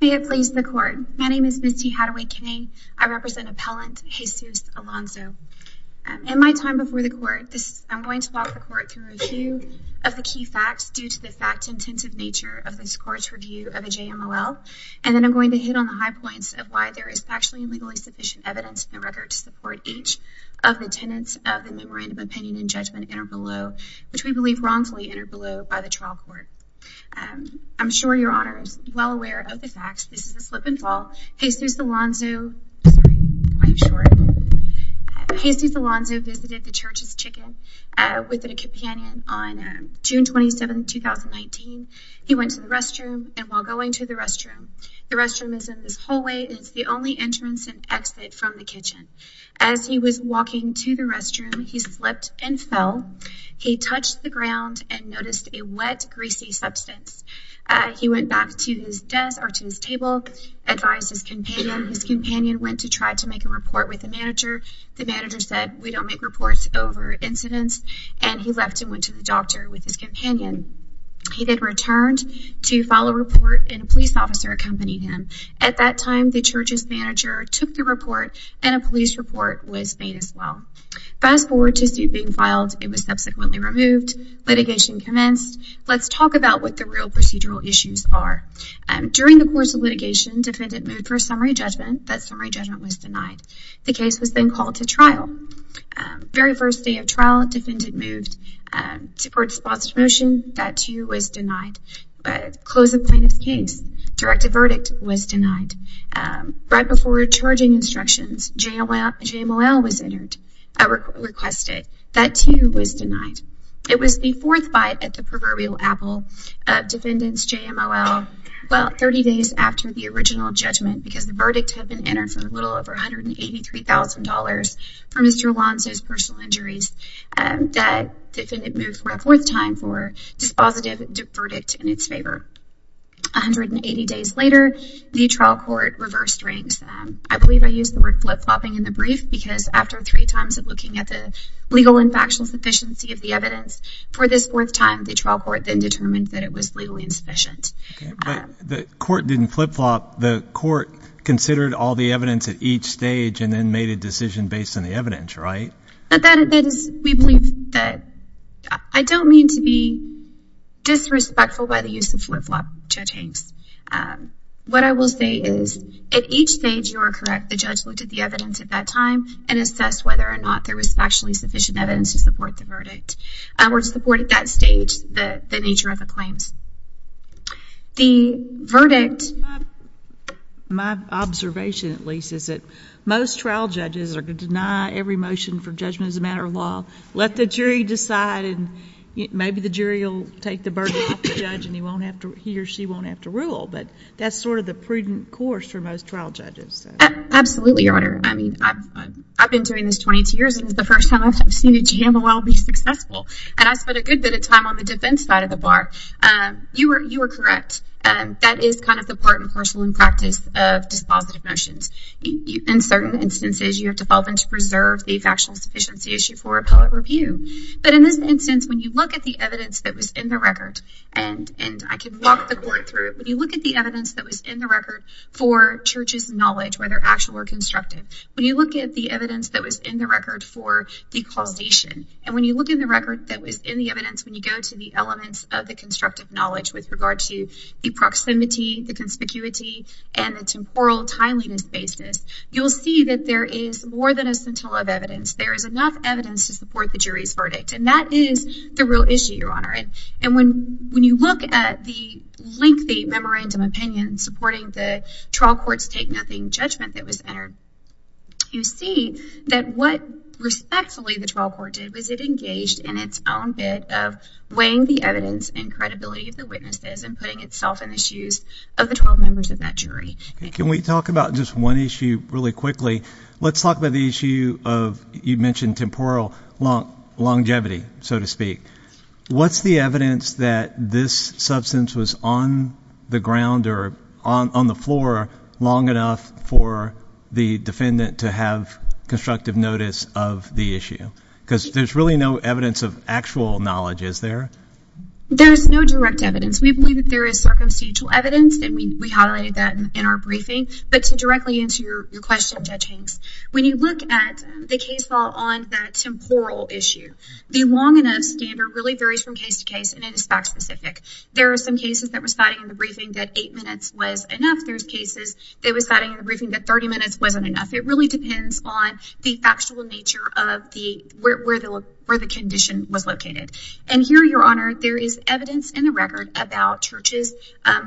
May it please the Court. My name is Misty Hadaway-Kane. I represent Appellant Jesus Alonzo. In my time before the Court, I'm going to walk the Court through a few of the key facts due to the fact-intensive nature of this Court's review of a JMLL, and then I'm going to hit on the high points of why there is factually and legally sufficient evidence in the record to support each of the tenets of the Memorandum of Opinion and Judgment, which we believe wrongfully entered below by the trial court. I'm sure your Honor is well aware of the facts. This is a slip and fall. Jesus Alonzo visited the Church's chicken with a companion on June 27, 2019. He went to the restroom, and while going to the restroom, the restroom is in this hallway, and it's the only entrance and exit from the kitchen. As he was walking to the restroom, he slipped and fell. He touched the ground and noticed a wet, greasy substance. He went back to his desk or to his table, advised his companion. His companion went to try to make a report with the manager. The manager said, we don't make reports over incidents, and he left and went to the doctor with his companion. He then returned to file a report, and a police officer accompanied him. At that time, the Church's manager took the report, and a police report was made as well. Fast forward to suit being filed. It was subsequently removed. Litigation commenced. Let's talk about what the real procedural issues are. During the course of litigation, defendant moved for summary judgment. That summary judgment was denied. The case was then called to trial. Very first day of trial, defendant moved to court sponsored motion. That too was denied. Closed the plaintiff's case. Directed verdict was denied. Right before charging instructions, JMOL was requested. That too was denied. It was the fourth bite at the proverbial apple of defendant's JMOL. 30 days after the original judgment, because the verdict had been entered for a little over $183,000 for Mr. Alonzo's personal injuries, defendant moved for a fourth time for dispositive verdict in its favor. 180 days later, the trial court reversed ranks. I believe I used the word flip-flopping in the brief, because after three times of looking at the legal and factual sufficiency of the evidence, for this fourth time, the trial court then determined that it was legally insufficient. The court didn't flip-flop. The court considered all the evidence at each stage and then made a decision based on the evidence, right? We believe that. I don't mean to be disrespectful by the use of flip-flop, Judge Hanks. What I will say is, at each stage, you are correct. The judge looked at the evidence at that time and assessed whether or not there was factually sufficient evidence to support the verdict. Or to support, at that stage, the nature of the claims. The verdict... My observation, at least, is that most trial judges are going to deny every motion for judgment as a matter of law. Let the jury decide, and maybe the jury will take the burden off the judge, and he or she won't have to rule. But that's sort of the prudent course for most trial judges. Absolutely, Your Honor. I mean, I've been doing this 22 years, and it's the first time I've seen a JMOL be successful. And I spent a good bit of time on the defense side of the bar. You are correct. That is kind of the part and parcel and practice of dispositive motions. In certain instances, you have to fall into reserve the factual sufficiency issue for appellate review. But in this instance, when you look at the evidence that was in the record, and I can walk the court through it. When you look at the evidence that was in the record for church's knowledge, whether actual or constructive, when you look at the evidence that was in the record for the causation, and when you look at the record that was in the evidence when you go to the elements of the constructive knowledge with regard to the proximity, the conspicuity, and the temporal timeliness basis, you'll see that there is more than a scintilla of evidence. There is enough evidence to support the jury's verdict, and that is the real issue, Your Honor. And when you look at the lengthy memorandum opinion supporting the trial court's take-nothing judgment that was entered, you see that what respectfully the trial court did was it engaged in its own bit of weighing the evidence and credibility of the witnesses and putting itself in the shoes of the 12 members of that jury. Can we talk about just one issue really quickly? Let's talk about the issue of you mentioned temporal longevity, so to speak. What's the evidence that this substance was on the ground or on the floor long enough for the defendant to have constructive notice of the issue? Because there's really no evidence of actual knowledge, is there? There's no direct evidence. We believe that there is circumstantial evidence, and we highlighted that in our briefing. But to directly answer your question, Judge Hanks, when you look at the case law on that temporal issue, the long enough standard really varies from case to case, and it is fact-specific. There are some cases that were cited in the briefing that 8 minutes was enough. There's cases that were cited in the briefing that 30 minutes wasn't enough. It really depends on the factual nature of where the condition was located. And here, Your Honor, there is evidence in the record about Church's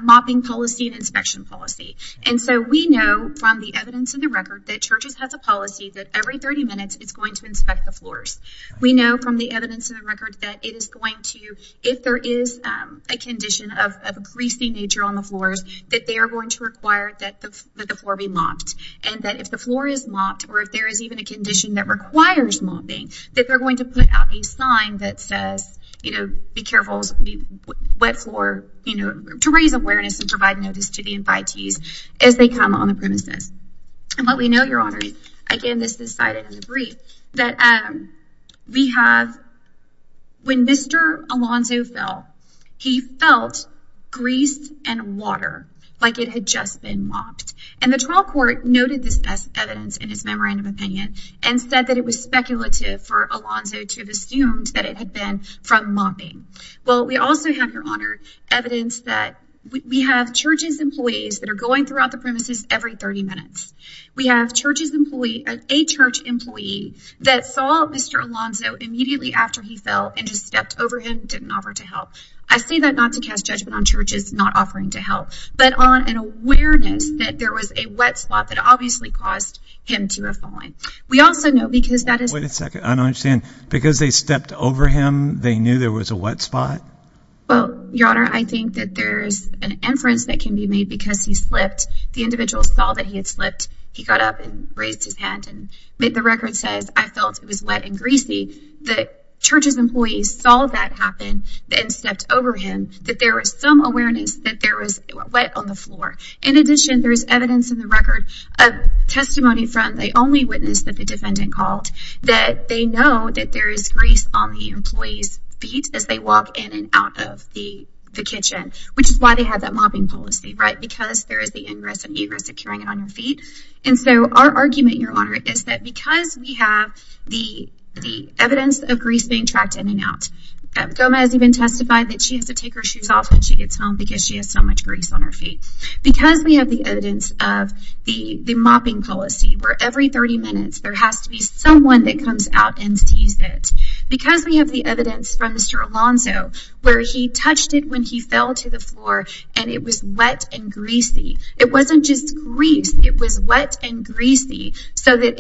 mopping policy and inspection policy. And so we know from the evidence in the record that Church's has a policy that every 30 minutes it's going to inspect the floors. We know from the evidence in the record that it is going to, if there is a condition of a greasy nature on the floors, that they are going to require that the floor be mopped, and that if the floor is mopped or if there is even a condition that requires mopping, that they're going to put out a sign that says, you know, be careful, wet floor, you know, to raise awareness and provide notice to the invitees as they come on the premises. And what we know, Your Honor, again, this is cited in the brief, that we have, when Mr. Alonzo fell, he felt greased and water, like it had just been mopped. And the trial court noted this as evidence in his memorandum opinion and said that it was speculative for Alonzo to have assumed that it had been from mopping. Well, we also have, Your Honor, evidence that we have Church's employees that are going throughout the premises every 30 minutes. We have a Church employee that saw Mr. Alonzo immediately after he fell and just stepped over him, didn't offer to help. I say that not to cast judgment on Church's not offering to help, but on an awareness that there was a wet spot that obviously caused him to have fallen. Wait a second. I don't understand. Because they stepped over him, they knew there was a wet spot? Well, Your Honor, I think that there's an inference that can be made because he slipped. The individual saw that he had slipped. He got up and raised his hand. The record says, I felt it was wet and greasy. The Church's employees saw that happen and stepped over him, that there was some awareness that there was wet on the floor. In addition, there is evidence in the record of testimony from the only witness that the defendant called that they know that there is grease on the employee's feet as they walk in and out of the kitchen, which is why they have that mopping policy, right? Because there is the ingress and egress of carrying it on your feet. And so our argument, Your Honor, is that because we have the evidence of grease being tracked in and out, Gomez even testified that she has to take her shoes off when she gets home because she has so much grease on her feet because we have the evidence of the mopping policy where every 30 minutes there has to be someone that comes out and sees it. Because we have the evidence from Mr. Alonzo where he touched it when he fell to the floor and it was wet and greasy. It wasn't just grease. It was wet and greasy so that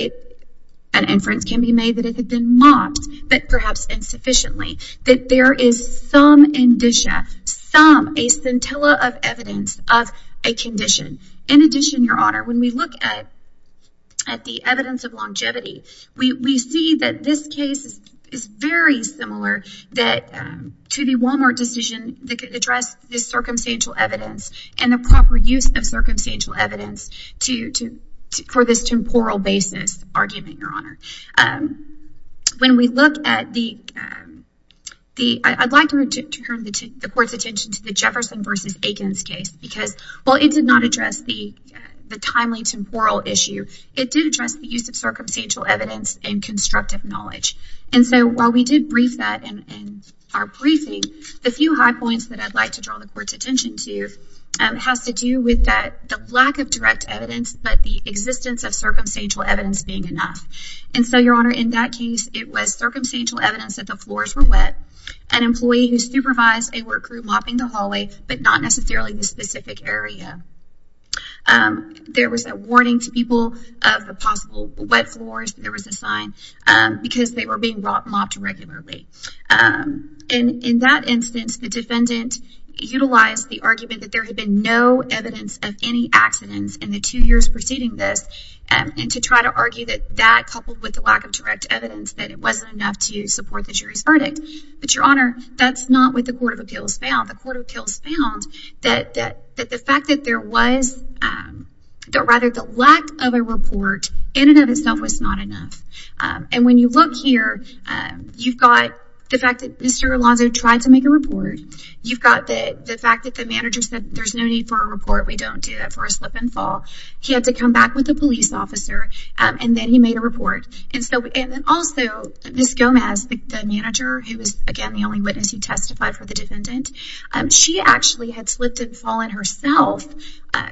an inference can be made that it had been mopped, but perhaps insufficiently, that there is some indicia, some, a scintilla of evidence of a condition. In addition, Your Honor, when we look at the evidence of longevity, we see that this case is very similar to the Walmart decision that addressed the circumstantial evidence and the proper use of circumstantial evidence for this temporal basis argument, Your Honor. When we look at the, I'd like to turn the Court's attention to the Jefferson v. Aikens case because while it did not address the timely temporal issue, it did address the use of circumstantial evidence and constructive knowledge. And so while we did brief that in our briefing, the few high points that I'd like to draw the Court's attention to has to do with the lack of direct evidence but the existence of circumstantial evidence being enough. And so, Your Honor, in that case, it was circumstantial evidence that the floors were wet, an employee who supervised a work group mopping the hallway but not necessarily the specific area. There was a warning to people of the possible wet floors. There was a sign because they were being mopped regularly. And in that instance, the defendant utilized the argument that there had been no evidence of any accidents in the two years preceding this and to try to argue that that coupled with the lack of direct evidence that it wasn't enough to support the jury's verdict. But, Your Honor, that's not what the Court of Appeals found. The Court of Appeals found that the fact that there was, or rather the lack of a report in and of itself was not enough. And when you look here, you've got the fact that Mr. Alonzo tried to make a report. You've got the fact that the manager said there's no need for a report. We don't do that for a slip and fall. He had to come back with a police officer, and then he made a report. And then also, Ms. Gomez, the manager, who was, again, the only witness who testified for the defendant, she actually had slipped and fallen herself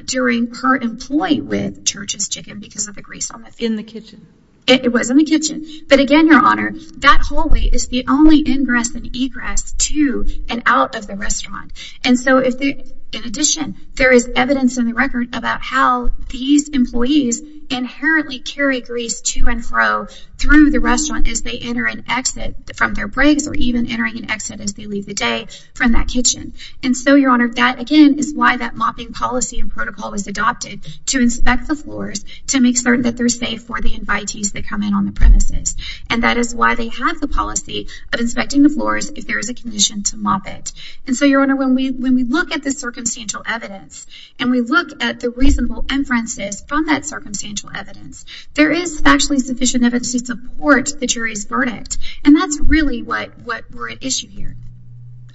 during her employee with Church's Chicken because of the grease on the floor. In the kitchen. It was in the kitchen. But, again, Your Honor, that hallway is the only ingress and egress to and out of the restaurant. And so, in addition, there is evidence in the record about how these employees inherently carry grease to and fro through the restaurant as they enter and exit from their breaks or even entering and exit as they leave the day from that kitchen. And so, Your Honor, that, again, is why that mopping policy and protocol was adopted to inspect the floors to make certain that they're safe for the invitees that come in on the premises. And that is why they have the policy of inspecting the floors if there is a condition to mop it. And so, Your Honor, when we look at the circumstantial evidence and we look at the reasonable inferences from that circumstantial evidence, there is factually sufficient evidence to support the jury's verdict. And that's really what we're at issue here.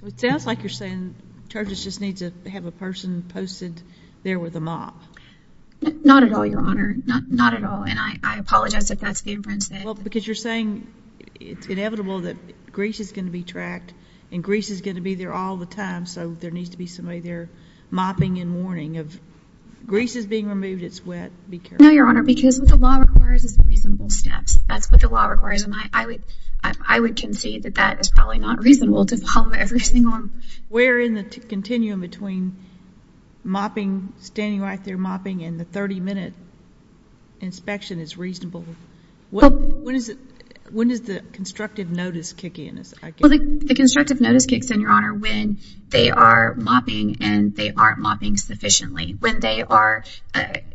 It sounds like you're saying Church's just needs to have a person posted there with a mop. Not at all, Your Honor. Not at all. And I apologize if that's the inference. Well, because you're saying it's inevitable that grease is going to be tracked and grease is going to be there all the time, so there needs to be somebody there mopping in warning of grease is being removed, it's wet, be careful. No, Your Honor, because what the law requires is reasonable steps. That's what the law requires. And I would concede that that is probably not reasonable to follow every single rule. We're in the continuum between mopping, standing right there mopping, and the 30-minute inspection is reasonable. When does the constructive notice kick in? Well, the constructive notice kicks in, Your Honor, when they are mopping and they aren't mopping sufficiently, when they are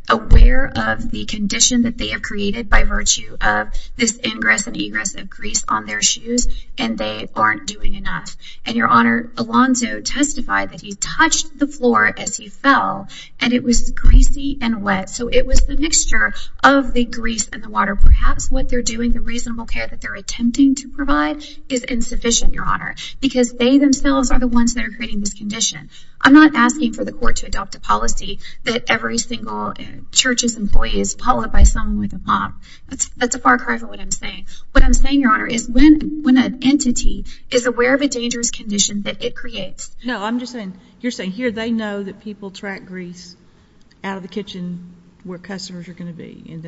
aware of the condition that they have created by virtue of this ingress and egress of grease on their shoes and they aren't doing enough. And, Your Honor, Alonzo testified that he touched the floor as he fell and it was greasy and wet, so it was the mixture of the grease and the water. Perhaps what they're doing, the reasonable care that they're attempting to provide, is insufficient, Your Honor, because they themselves are the ones that are creating this condition. I'm not asking for the court to adopt a policy that every single church's employee is followed by someone with a mop. That's a far cry from what I'm saying. What I'm saying, Your Honor, is when an entity is aware of a dangerous condition that it creates. No, I'm just saying, you're saying here they know that people track grease out of the kitchen where customers are going to be.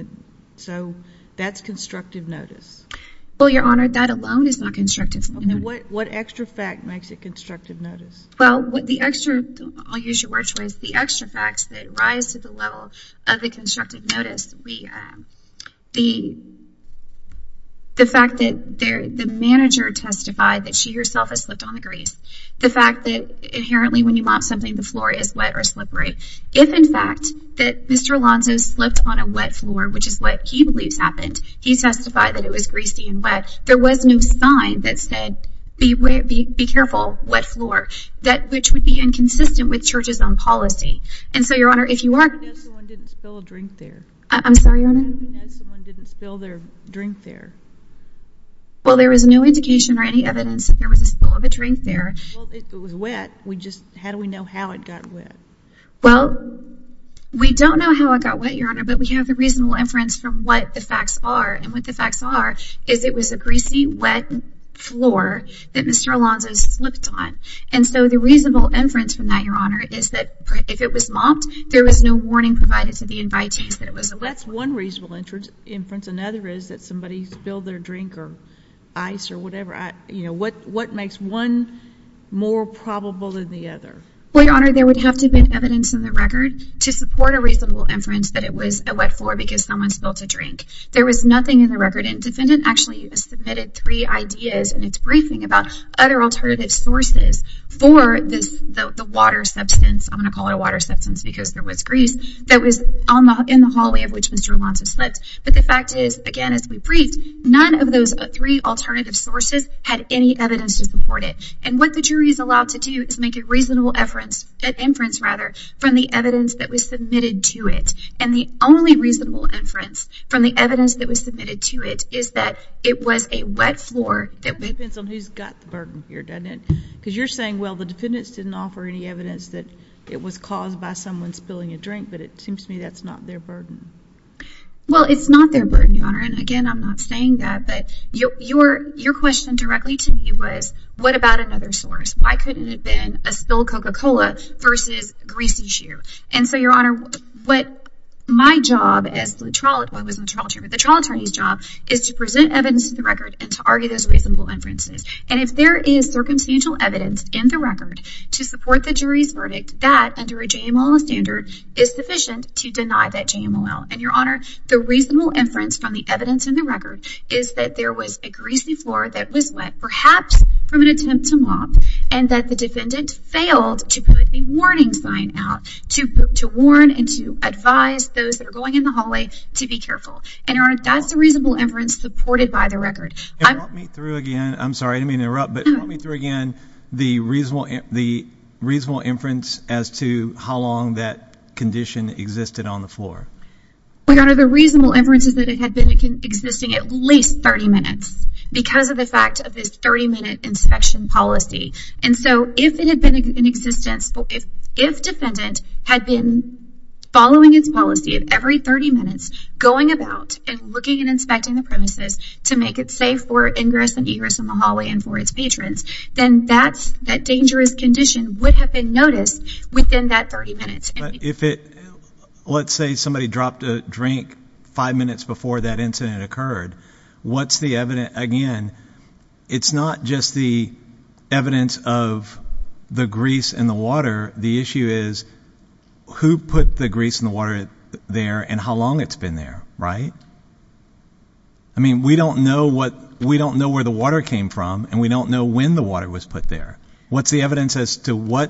So that's constructive notice. Well, Your Honor, that alone is not constructive notice. What extra fact makes it constructive notice? Well, the extra, I'll use your word choice, the extra facts that rise to the level of the constructive notice, the fact that the manager testified that she herself has slipped on the grease, the fact that inherently when you mop something the floor is wet or slippery. If, in fact, that Mr. Alonzo slipped on a wet floor, which is what he believes happened, he testified that it was greasy and wet, there was no sign that said, be careful, wet floor, which would be inconsistent with church's own policy. And so, Your Honor, if you are Someone didn't spill a drink there. I'm sorry, Your Honor? Someone didn't spill their drink there. Well, there was no indication or any evidence that there was a spill of a drink there. Well, if it was wet, how do we know how it got wet? Well, we don't know how it got wet, Your Honor, but we have the reasonable inference from what the facts are. And what the facts are is it was a greasy, wet floor that Mr. Alonzo slipped on. And so the reasonable inference from that, Your Honor, is that if it was mopped, there was no warning provided to the invitees that it was a wet floor. That's one reasonable inference. Another is that somebody spilled their drink or ice or whatever. What makes one more probable than the other? Well, Your Honor, there would have to have been evidence in the record to support a reasonable inference that it was a wet floor because someone spilled a drink. There was nothing in the record. Defendant actually submitted three ideas in its briefing about other alternative sources for the water substance. I'm going to call it a water substance because there was grease that was in the hallway of which Mr. Alonzo slipped. But the fact is, again, as we briefed, none of those three alternative sources had any evidence to support it. And what the jury is allowed to do is make a reasonable inference from the evidence that was submitted to it. And the only reasonable inference from the evidence that was submitted to it is that it was a wet floor. It depends on who's got the burden here, doesn't it? Because you're saying, well, the defendants didn't offer any evidence that it was caused by someone spilling a drink, but it seems to me that's not their burden. Well, it's not their burden, Your Honor, and, again, I'm not saying that. But your question directly to me was, what about another source? Why couldn't it have been a spilled Coca-Cola versus greasy shoe? And so, Your Honor, what my job as the trial attorney's job is to present evidence to the record and to argue those reasonable inferences. And if there is circumstantial evidence in the record to support the jury's verdict, that, under a JMOL standard, is sufficient to deny that JMOL. And, Your Honor, the reasonable inference from the evidence in the record is that there was a greasy floor that was wet, perhaps from an attempt to mop, and that the defendant failed to put the warning sign out to warn and to advise those that are going in the hallway to be careful. And, Your Honor, that's the reasonable inference supported by the record. And run me through again. I'm sorry. I didn't mean to interrupt. But run me through again the reasonable inference as to how long that condition existed on the floor. Well, Your Honor, the reasonable inference is that it had been existing at least 30 minutes because of the fact of this 30-minute inspection policy. And so, if it had been in existence, if defendant had been following its policy of every 30 minutes, going about and looking and inspecting the premises to make it safe for ingress and egress in the hallway and for its patrons, then that dangerous condition would have been noticed within that 30 minutes. But if it, let's say somebody dropped a drink five minutes before that incident occurred, what's the evidence? Again, it's not just the evidence of the grease in the water. The issue is who put the grease in the water there and how long it's been there, right? I mean, we don't know what, we don't know where the water came from, and we don't know when the water was put there. What's the evidence as to where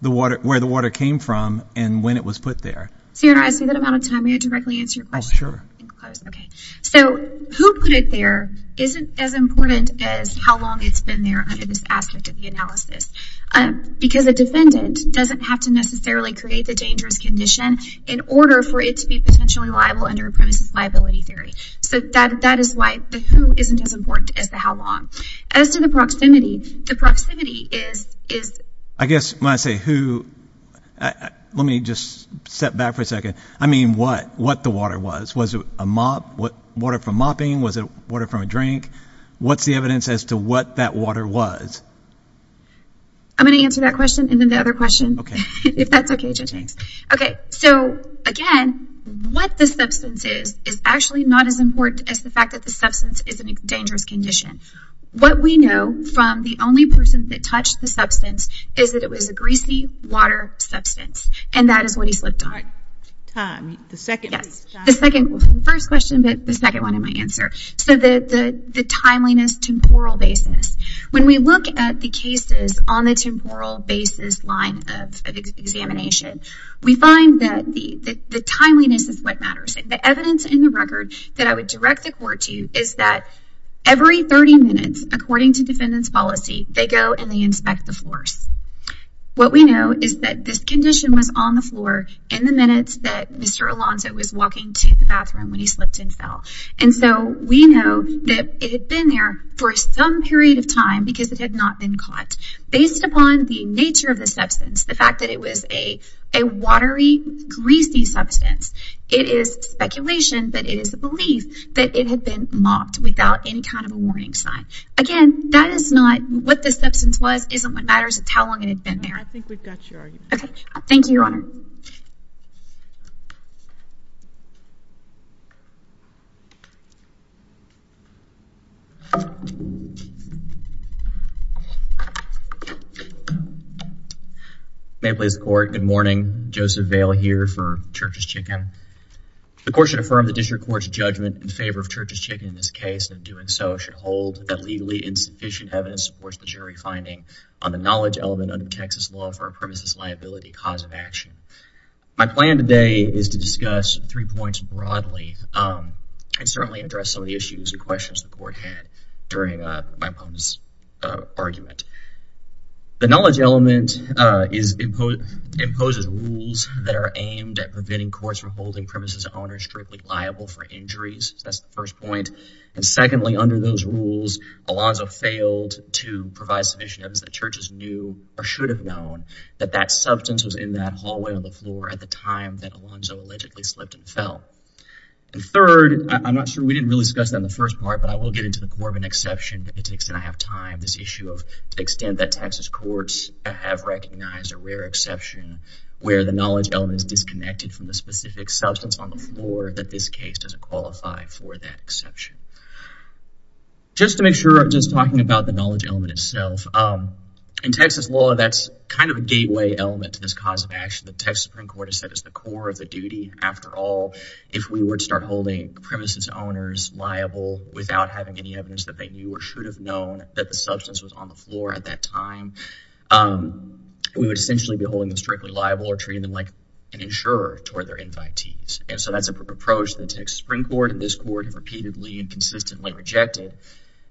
the water came from and when it was put there? So, Your Honor, I see that I'm out of time. May I directly answer your question? Oh, sure. Okay. So, who put it there isn't as important as how long it's been there under this aspect of the analysis. Because a defendant doesn't have to necessarily create the dangerous condition in order for it to be potentially liable under a premises liability theory. So, that is why the who isn't as important as the how long. As to the proximity, the proximity is... I guess when I say who, let me just step back for a second. I mean what, what the water was. Was it a mop? Water from mopping? Was it water from a drink? What's the evidence as to what that water was? I'm going to answer that question and then the other question. Okay. If that's okay, Judge Hanks. Okay, so again, what the substance is, is actually not as important as the fact that the substance is in a dangerous condition. What we know from the only person that touched the substance is that it was a greasy water substance. And that is what he slipped on. Time. The second one. Yes. The second one. First question, but the second one in my answer. So, the timeliness, temporal basis. When we look at the cases on the temporal basis line of examination, we find that the timeliness is what matters. The evidence in the record that I would direct the court to is that every 30 minutes, according to defendant's policy, they go and they inspect the floors. What we know is that this condition was on the floor in the minutes that Mr. Alonzo was walking to the bathroom when he slipped and fell. And so, we know that it had been there for some period of time because it had not been caught. Based upon the nature of the substance, the fact that it was a watery, greasy substance. It is speculation, but it is the belief that it had been mocked without any kind of a warning sign. Again, that is not what the substance was, isn't what matters. It's how long it had been there. I think we've got your argument. Okay. Thank you, Your Honor. Thank you. May it please the court. Good morning. Joseph Vail here for Church's Chicken. The court should affirm the district court's judgment in favor of Church's Chicken in this case. In doing so, it should hold that legally insufficient evidence supports the jury finding on the knowledge element under Texas law for a premises liability cause of action. My plan today is to discuss three points broadly and certainly address some of the issues and questions the court had during my opponent's argument. The knowledge element imposes rules that are aimed at preventing courts from holding premises owners strictly liable for injuries. That's the first point. And secondly, under those rules, Alonzo failed to provide sufficient evidence that churches knew or should have known that that substance was in that hallway on the floor at the time that Alonzo allegedly slipped and fell. And third, I'm not sure we didn't really discuss that in the first part, but I will get into the Corbin exception. I have time. This issue of the extent that Texas courts have recognized a rare exception where the knowledge element is disconnected from the specific substance on the floor, that this case doesn't qualify for that exception. Just to make sure, just talking about the knowledge element itself, in Texas law, that's kind of a gateway element to this cause of action. The Texas Supreme Court has said it's the core of the duty. After all, if we were to start holding premises owners liable without having any evidence that they knew or should have known that the substance was on the floor at that time, we would essentially be holding them strictly liable or treating them like an insurer toward their invitees. And so that's an approach the Texas Supreme Court and this court have repeatedly and consistently rejected.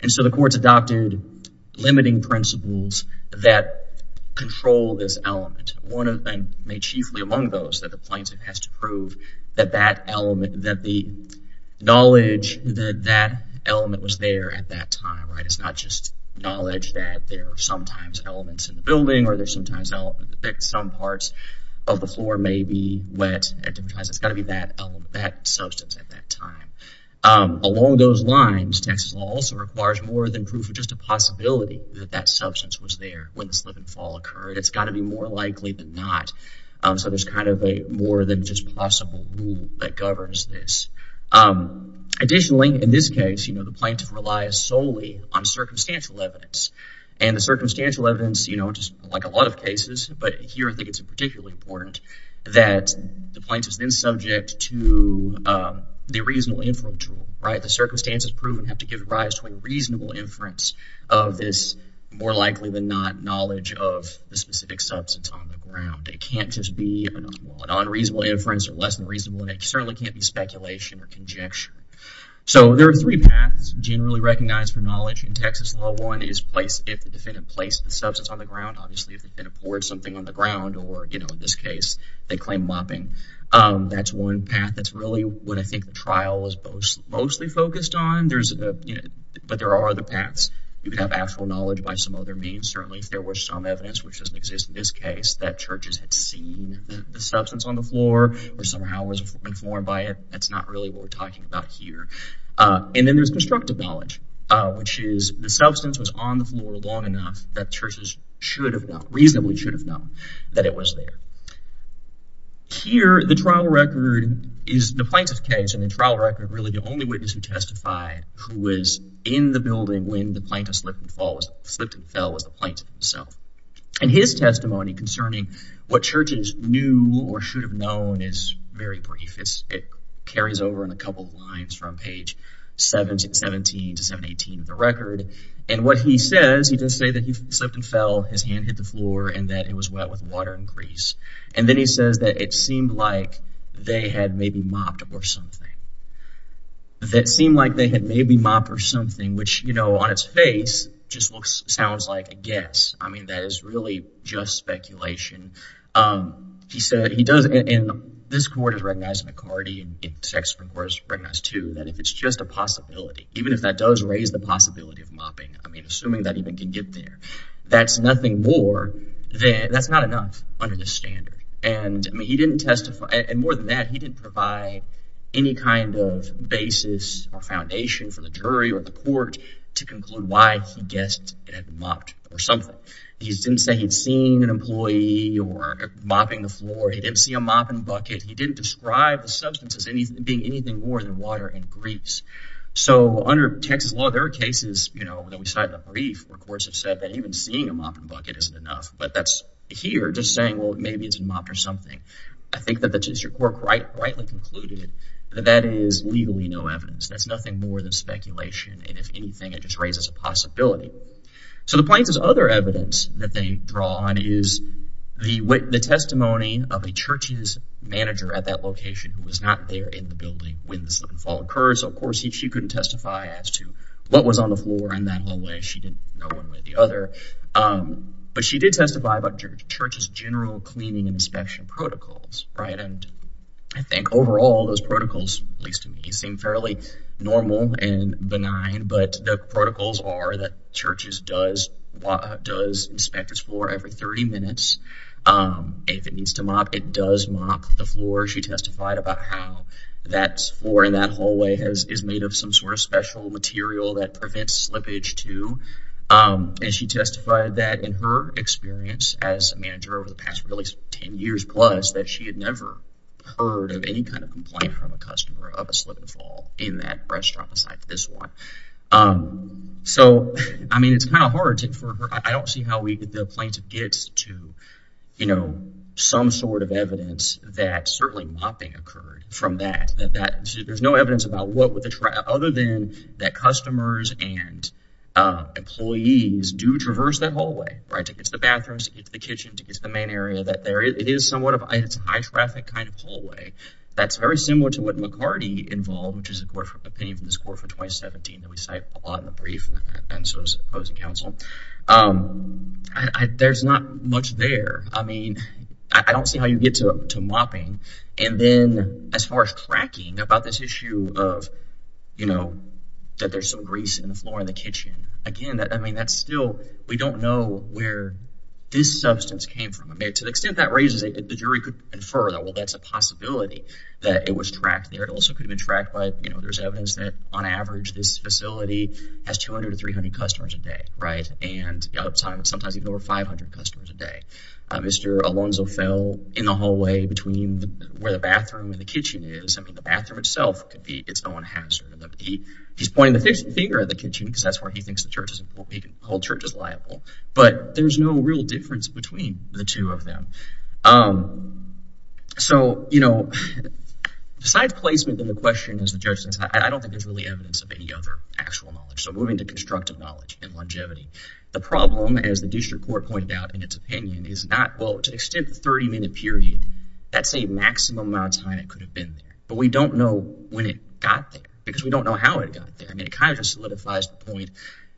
And so the courts adopted limiting principles that control this element. One of them, made chiefly among those, that the plaintiff has to prove that that element, that the knowledge that that element was there at that time, right? It's not just knowledge that there are sometimes elements in the building or there's sometimes elements that some parts of the floor may be wet at different times. It's got to be that element, that substance at that time. Along those lines, Texas law also requires more than proof of just a possibility that that substance was there when the slip and fall occurred. It's got to be more likely than not. So there's kind of a more than just possible rule that governs this. Additionally, in this case, the plaintiff relies solely on circumstantial evidence. And the circumstantial evidence, you know, just like a lot of cases, but here I think it's particularly important that the plaintiff is then subject to the reasonable inference rule, right? The circumstances proven have to give rise to a reasonable inference of this more likely than not knowledge of the specific substance on the ground. It can't just be an unreasonable inference or less than reasonable and it certainly can't be speculation or conjecture. So there are three paths generally recognized for knowledge in Texas law. One is if the defendant placed the substance on the ground. Obviously, if the defendant poured something on the ground or, you know, in this case, they claim mopping. That's one path that's really what I think the trial was mostly focused on. But there are other paths. You can have actual knowledge by some other means. Certainly, if there was some evidence, which doesn't exist in this case, that churches had seen the substance on the floor or somehow was informed by it, that's not really what we're talking about here. And then there's constructive knowledge, which is the substance was on the floor long enough that churches reasonably should have known that it was there. Here, the trial record is the plaintiff's case and the trial record really the only witness who testified who was in the building when the plaintiff slipped and fell was the plaintiff himself. And his testimony concerning what churches knew or should have known is very brief. It carries over in a couple of lines from page 17 to 718 of the record. And what he says, he does say that he slipped and fell, his hand hit the floor, and that it was wet with water and grease. And then he says that it seemed like they had maybe mopped or something. That it seemed like they had maybe mopped or something, which, you know, on its face just sounds like a guess. I mean, that is really just speculation. He said he does, and this court has recognized McCarty, and the sex court has recognized, too, that if it's just a possibility, even if that does raise the possibility of mopping, I mean, assuming that even can get there, that's nothing more than, that's not enough under this standard. And he didn't testify – and more than that, he didn't provide any kind of basis or foundation for the jury or the court to conclude why he guessed it had been mopped or something. He didn't say he'd seen an employee or mopping the floor. He didn't see a mopping bucket. He didn't describe the substance as being anything more than water and grease. So under Texas law, there are cases, you know, that we cite in the brief where courts have said that even seeing a mopping bucket isn't enough, but that's here just saying, well, maybe it's been mopped or something. I think that the district court rightly concluded that that is legally no evidence. That's nothing more than speculation, and if anything, it just raises a possibility. So the Plains' other evidence that they draw on is the testimony of a church's manager at that location who was not there in the building when the slip and fall occurred. So, of course, she couldn't testify as to what was on the floor in that hallway. She didn't know one way or the other. But she did testify about the church's general cleaning and inspection protocols, right? And I think overall, those protocols, at least to me, seem fairly normal and benign, but the protocols are that churches does inspect its floor every 30 minutes. If it needs to mop, it does mop the floor. She testified about how that floor in that hallway is made of some sort of special material that prevents slippage, too. And she testified that in her experience as a manager over the past, really, 10 years plus, that she had never heard of any kind of complaint from a customer of a slip and fall in that restaurant, aside from this one. So, I mean, it's kind of hard to infer. I don't see how the plaintiff gets to, you know, some sort of evidence that certainly mopping occurred from that. There's no evidence about what would the—other than that customers and employees do traverse that hallway, right, to get to the bathrooms, to get to the kitchen, to get to the main area. It is somewhat of a—it's a high-traffic kind of hallway that's very similar to what McCarty involved, which is an opinion from this court for 2017. We cite a lot in the brief, and so does the opposing counsel. There's not much there. I mean, I don't see how you get to mopping. And then as far as cracking about this issue of, you know, that there's some grease in the floor in the kitchen, again, that's still—we don't know where this substance came from. To the extent that raises it, the jury could infer that, well, that's a possibility that it was tracked there. It also could have been tracked by, you know, there's evidence that on average this facility has 200 to 300 customers a day, right, and sometimes even over 500 customers a day. Mr. Alonzo fell in the hallway between where the bathroom and the kitchen is. I mean, the bathroom itself could be—it's no one has. He's pointing the finger at the kitchen because that's where he thinks the church is—the whole church is liable. But there's no real difference between the two of them. So, you know, besides placement in the question as the judge says, I don't think there's really evidence of any other actual knowledge. So moving to constructive knowledge and longevity. The problem, as the district court pointed out in its opinion, is not, well, to the extent the 30-minute period, that's the maximum amount of time it could have been there. But we don't know when it got there because we don't know how it got there. I mean, it kind of just solidifies the point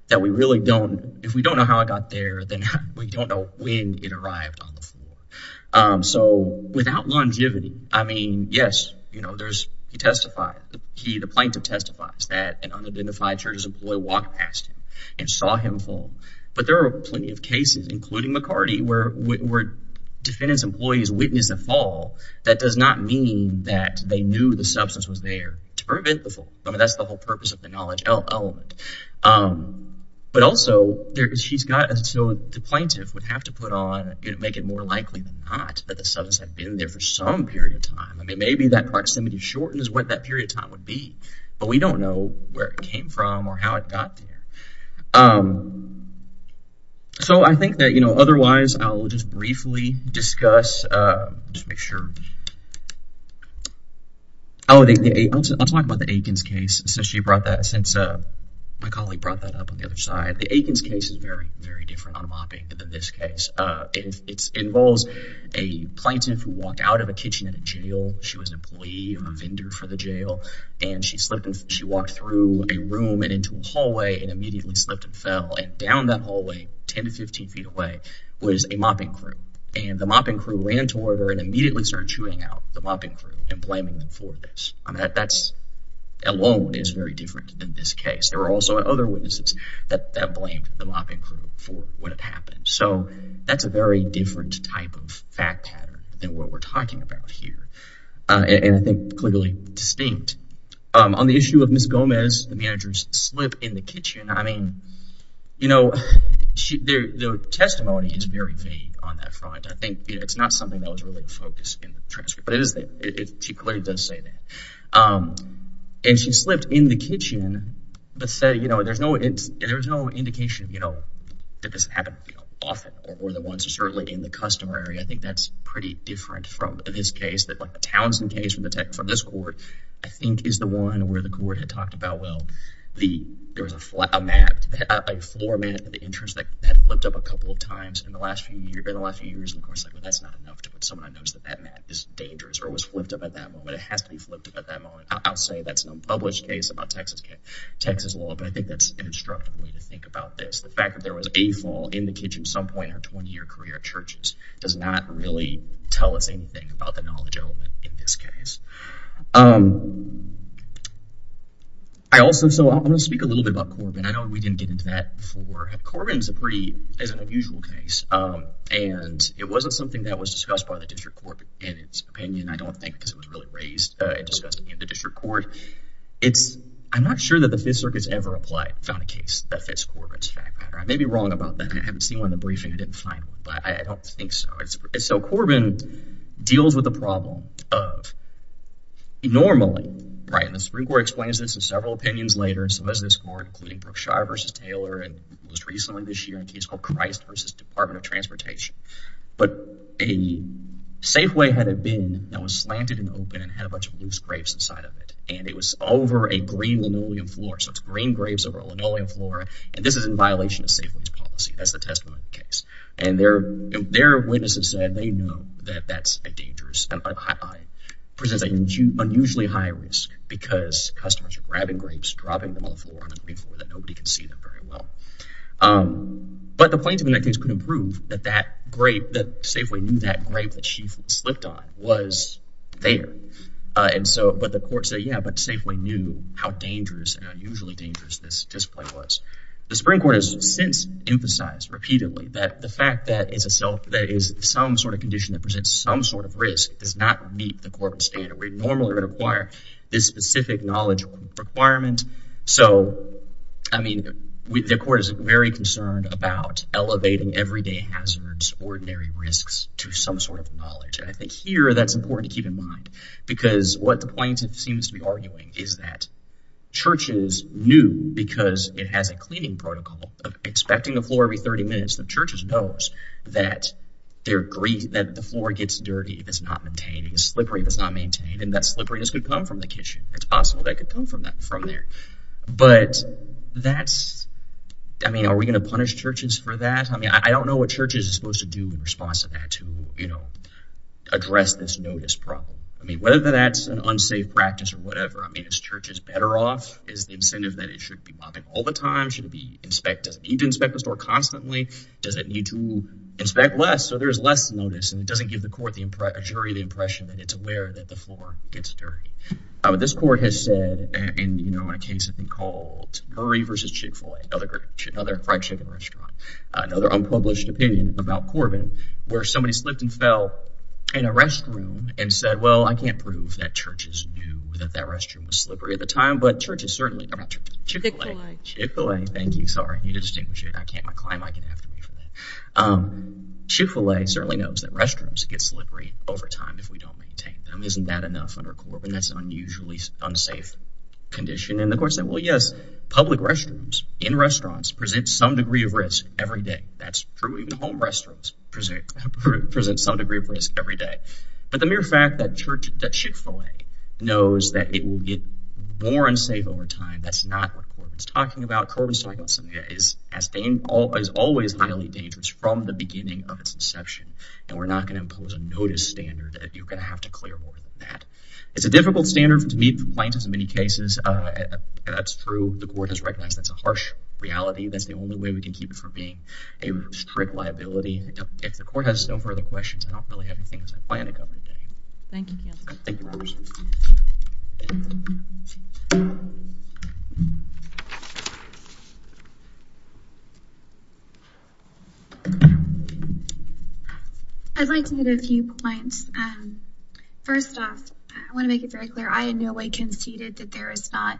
that we really don't—if we don't know how it got there, then we don't know when it arrived on the floor. So without longevity, I mean, yes, you know, there's—he testified. The plaintiff testifies that an unidentified church's employee walked past him and saw him fall. But there are plenty of cases, including McCarty, where defendants' employees witnessed a fall. That does not mean that they knew the substance was there to prevent the fall. I mean, that's the whole purpose of the knowledge element. But also, she's got—so the plaintiff would have to put on—make it more likely than not that the substance had been there for some period of time. I mean, maybe that proximity shortened is what that period of time would be. But we don't know where it came from or how it got there. So I think that, you know, otherwise I'll just briefly discuss—just make sure. Oh, I'll talk about the Aikens case. So she brought that since—my colleague brought that up on the other side. The Aikens case is very, very different on mopping than this case. It involves a plaintiff who walked out of a kitchen at a jail. She was an employee or a vendor for the jail. And she slipped and she walked through a room and into a hallway and immediately slipped and fell. And down that hallway, 10 to 15 feet away, was a mopping crew. And the mopping crew ran toward her and immediately started chewing out the mopping crew and blaming them for this. I mean, that alone is very different than this case. There were also other witnesses that blamed the mopping crew for what had happened. So that's a very different type of fact pattern than what we're talking about here and I think clearly distinct. On the issue of Ms. Gomez, the manager's slip in the kitchen. I mean, you know, the testimony is very vague on that front. I think it's not something that was really focused in the transcript. But it is—she clearly does say that. And she slipped in the kitchen but said, you know, there's no indication, you know, that this happened often or more than once. Certainly in the customer area, I think that's pretty different from this case. The Townsend case from this court, I think, is the one where the court had talked about, well, there was a mat, a floor mat in the entrance that had flipped up a couple of times in the last few years. And of course, that's not enough to put someone on notice that that mat is dangerous or was flipped up at that moment. It has to be flipped up at that moment. I'll say that's an unpublished case about Texas law, but I think that's an instructive way to think about this. The fact that there was a floor in the kitchen at some point in her 20-year career at churches does not really tell us anything about the knowledge element in this case. I also—so I'm going to speak a little bit about Corbin. I know we didn't get into that before. Corbin is a pretty—is an unusual case. And it wasn't something that was discussed by the district court in its opinion, I don't think, because it was really raised and discussed in the district court. It's—I'm not sure that the Fifth Circuit's ever applied—found a case that fits Corbin's fact pattern. I may be wrong about that. I haven't seen one in the briefing. I didn't find one. But I don't think so. So Corbin deals with the problem of normally—right? And the Supreme Court explains this in several opinions later, some as this court, including Brookshire v. Taylor and most recently this year in a case called Christ v. Department of Transportation. But a Safeway had a bin that was slanted and open and had a bunch of loose grapes inside of it, and it was over a green linoleum floor. So it's green grapes over a linoleum floor, and this is in violation of Safeway's policy. That's the testimony of the case. And their witnesses said they know that that's a dangerous—presents an unusually high risk because customers are grabbing grapes, dropping them on the green floor that nobody can see them very well. But the plaintiff in that case couldn't prove that that grape—that Safeway knew that grape that she slipped on was there. And so—but the court said, yeah, but Safeway knew how dangerous and unusually dangerous this display was. The Supreme Court has since emphasized repeatedly that the fact that it's a—that it is some sort of condition that presents some sort of risk does not meet the corporate standard. We normally require this specific knowledge requirement. So, I mean, the court is very concerned about elevating everyday hazards, ordinary risks to some sort of knowledge. And I think here that's important to keep in mind because what the plaintiff seems to be arguing is that churches knew, because it has a cleaning protocol of inspecting the floor every 30 minutes, that churches knows that their—that the floor gets dirty if it's not maintained. It's slippery if it's not maintained, and that slipperiness could come from the kitchen. It's possible that it could come from there. But that's—I mean, are we going to punish churches for that? I mean, I don't know what churches are supposed to do in response to that to, you know, address this notice problem. I mean, whether that's an unsafe practice or whatever, I mean, is churches better off? Is the incentive that it should be mopping all the time? Should it be inspect—does it need to inspect the store constantly? Does it need to inspect less so there's less notice and it doesn't give the court, the jury, the impression that it's aware that the floor gets dirty? This court has said, you know, in a case I think called Curry v. Chick-fil-A, another fried chicken restaurant, another unpublished opinion about Corbin where somebody slipped and fell in a restroom and said, well, I can't prove that churches knew that that restroom was slippery at the time, but churches certainly— Chick-fil-A. Chick-fil-A. Chick-fil-A. Thank you. Sorry. I need to distinguish it. I can't. My client might get after me for that. Chick-fil-A certainly knows that restrooms get slippery over time if we don't maintain them. Isn't that enough under Corbin? That's an unusually unsafe condition. And the court said, well, yes, public restrooms in restaurants present some degree of risk every day. That's true. Even home restrooms present some degree of risk every day. But the mere fact that Chick-fil-A knows that it will get more unsafe over time, that's not what Corbin's talking about. Corbin's talking about something that is always highly dangerous from the beginning of its inception, and we're not going to impose a notice standard that you're going to have to clear more than that. It's a difficult standard to meet for clients in many cases, and that's true. The court has recognized that's a harsh reality. That's the only way we can keep it from being a strict liability. If the court has no further questions, I don't really have anything else I plan to cover today. Thank you, counsel. Thank you, members. I'd like to hit a few points. First off, I want to make it very clear I in no way conceded that there is not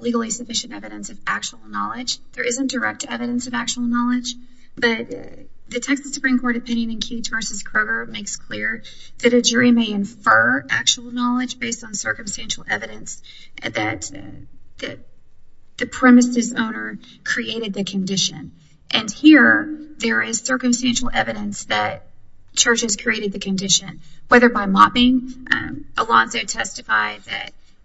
legally sufficient evidence of actual knowledge. There isn't direct evidence of actual knowledge. But the Texas Supreme Court opinion in Cage v. Kroger makes clear that a jury may infer actual knowledge based on circumstantial evidence that the premises owner created the condition. And here there is circumstantial evidence that Church has created the condition, whether by mopping. Alonzo testified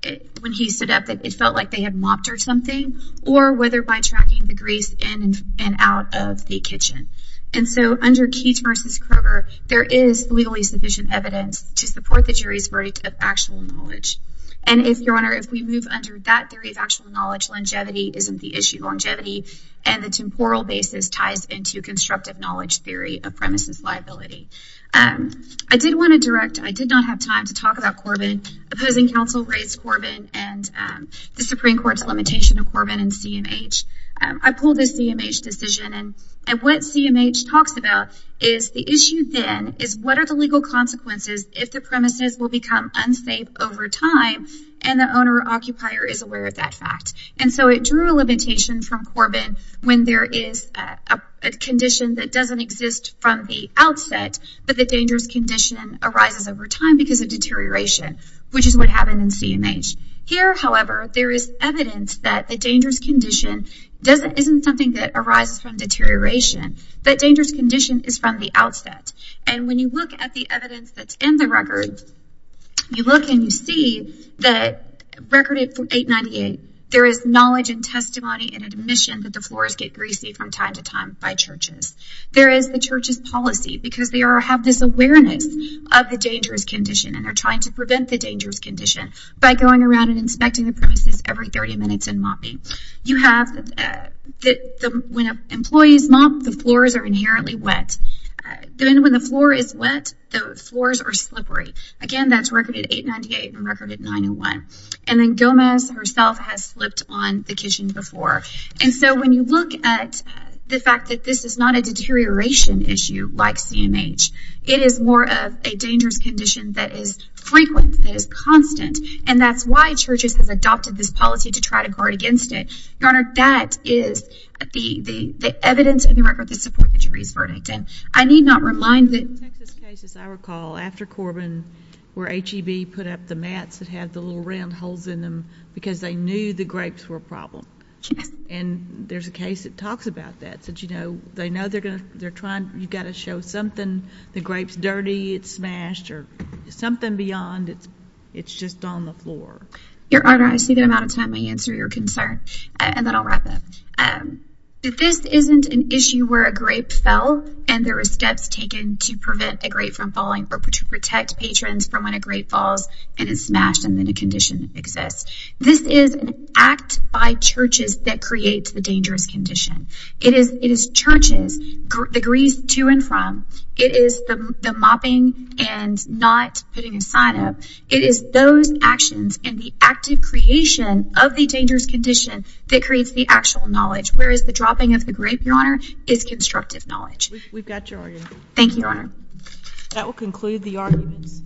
that when he stood up that it felt like they had mopped or something, or whether by tracking the grease in and out of the kitchen. And so under Cage v. Kroger, there is legally sufficient evidence to support the jury's verdict of actual knowledge. And if, Your Honor, if we move under that theory of actual knowledge, longevity isn't the issue. Longevity and the temporal basis ties into constructive knowledge theory of premises liability. I did want to direct, I did not have time to talk about Corbin. Opposing counsel raised Corbin and the Supreme Court's limitation of Corbin and CMH. I pulled a CMH decision and what CMH talks about is the issue then is what are the legal consequences if the premises will become unsafe over time and the owner or occupier is aware of that fact. And so it drew a limitation from Corbin when there is a condition that doesn't exist from the outset, but the dangerous condition arises over time because of deterioration, which is what happened in CMH. Here, however, there is evidence that the dangerous condition isn't something that arises from deterioration. That dangerous condition is from the outset. And when you look at the evidence that's in the record, you look and you see that recorded for 898, there is knowledge and testimony and admission that the floors get greasy from time to time by churches. There is the church's policy because they have this awareness of the dangerous condition and they're trying to prevent the dangerous condition by going around and inspecting the premises every 30 minutes and mopping. When employees mop, the floors are inherently wet. Then when the floor is wet, the floors are slippery. Again, that's record at 898 and record at 901. And then Gomez herself has slipped on the kitchen floor. And so when you look at the fact that this is not a deterioration issue like CMH, it is more of a dangerous condition that is frequent, that is constant. And that's why churches have adopted this policy to try to guard against it. Your Honor, that is the evidence in the record that supports the jury's verdict. And I need not remind that— In Texas cases, I recall, after Corbin, where HEB put up the mats that had the little round holes in them because they knew the grapes were a problem. And there's a case that talks about that. They know you've got to show something, the grape's dirty, it's smashed, or something beyond. It's just on the floor. Your Honor, I see that I'm out of time. I answer your concern. And then I'll wrap up. This isn't an issue where a grape fell and there were steps taken to prevent a grape from falling or to protect patrons from when a grape falls and is smashed and then a condition exists. This is an act by churches that creates the dangerous condition. It is churches' agrees to and from. It is the mopping and not putting a sign up. It is those actions and the active creation of the dangerous condition that creates the actual knowledge, whereas the dropping of the grape, Your Honor, is constructive knowledge. Thank you, Your Honor. That will conclude the arguments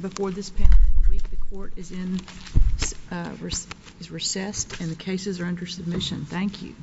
before this panel for the week. The court is recessed and the cases are under submission. Thank you.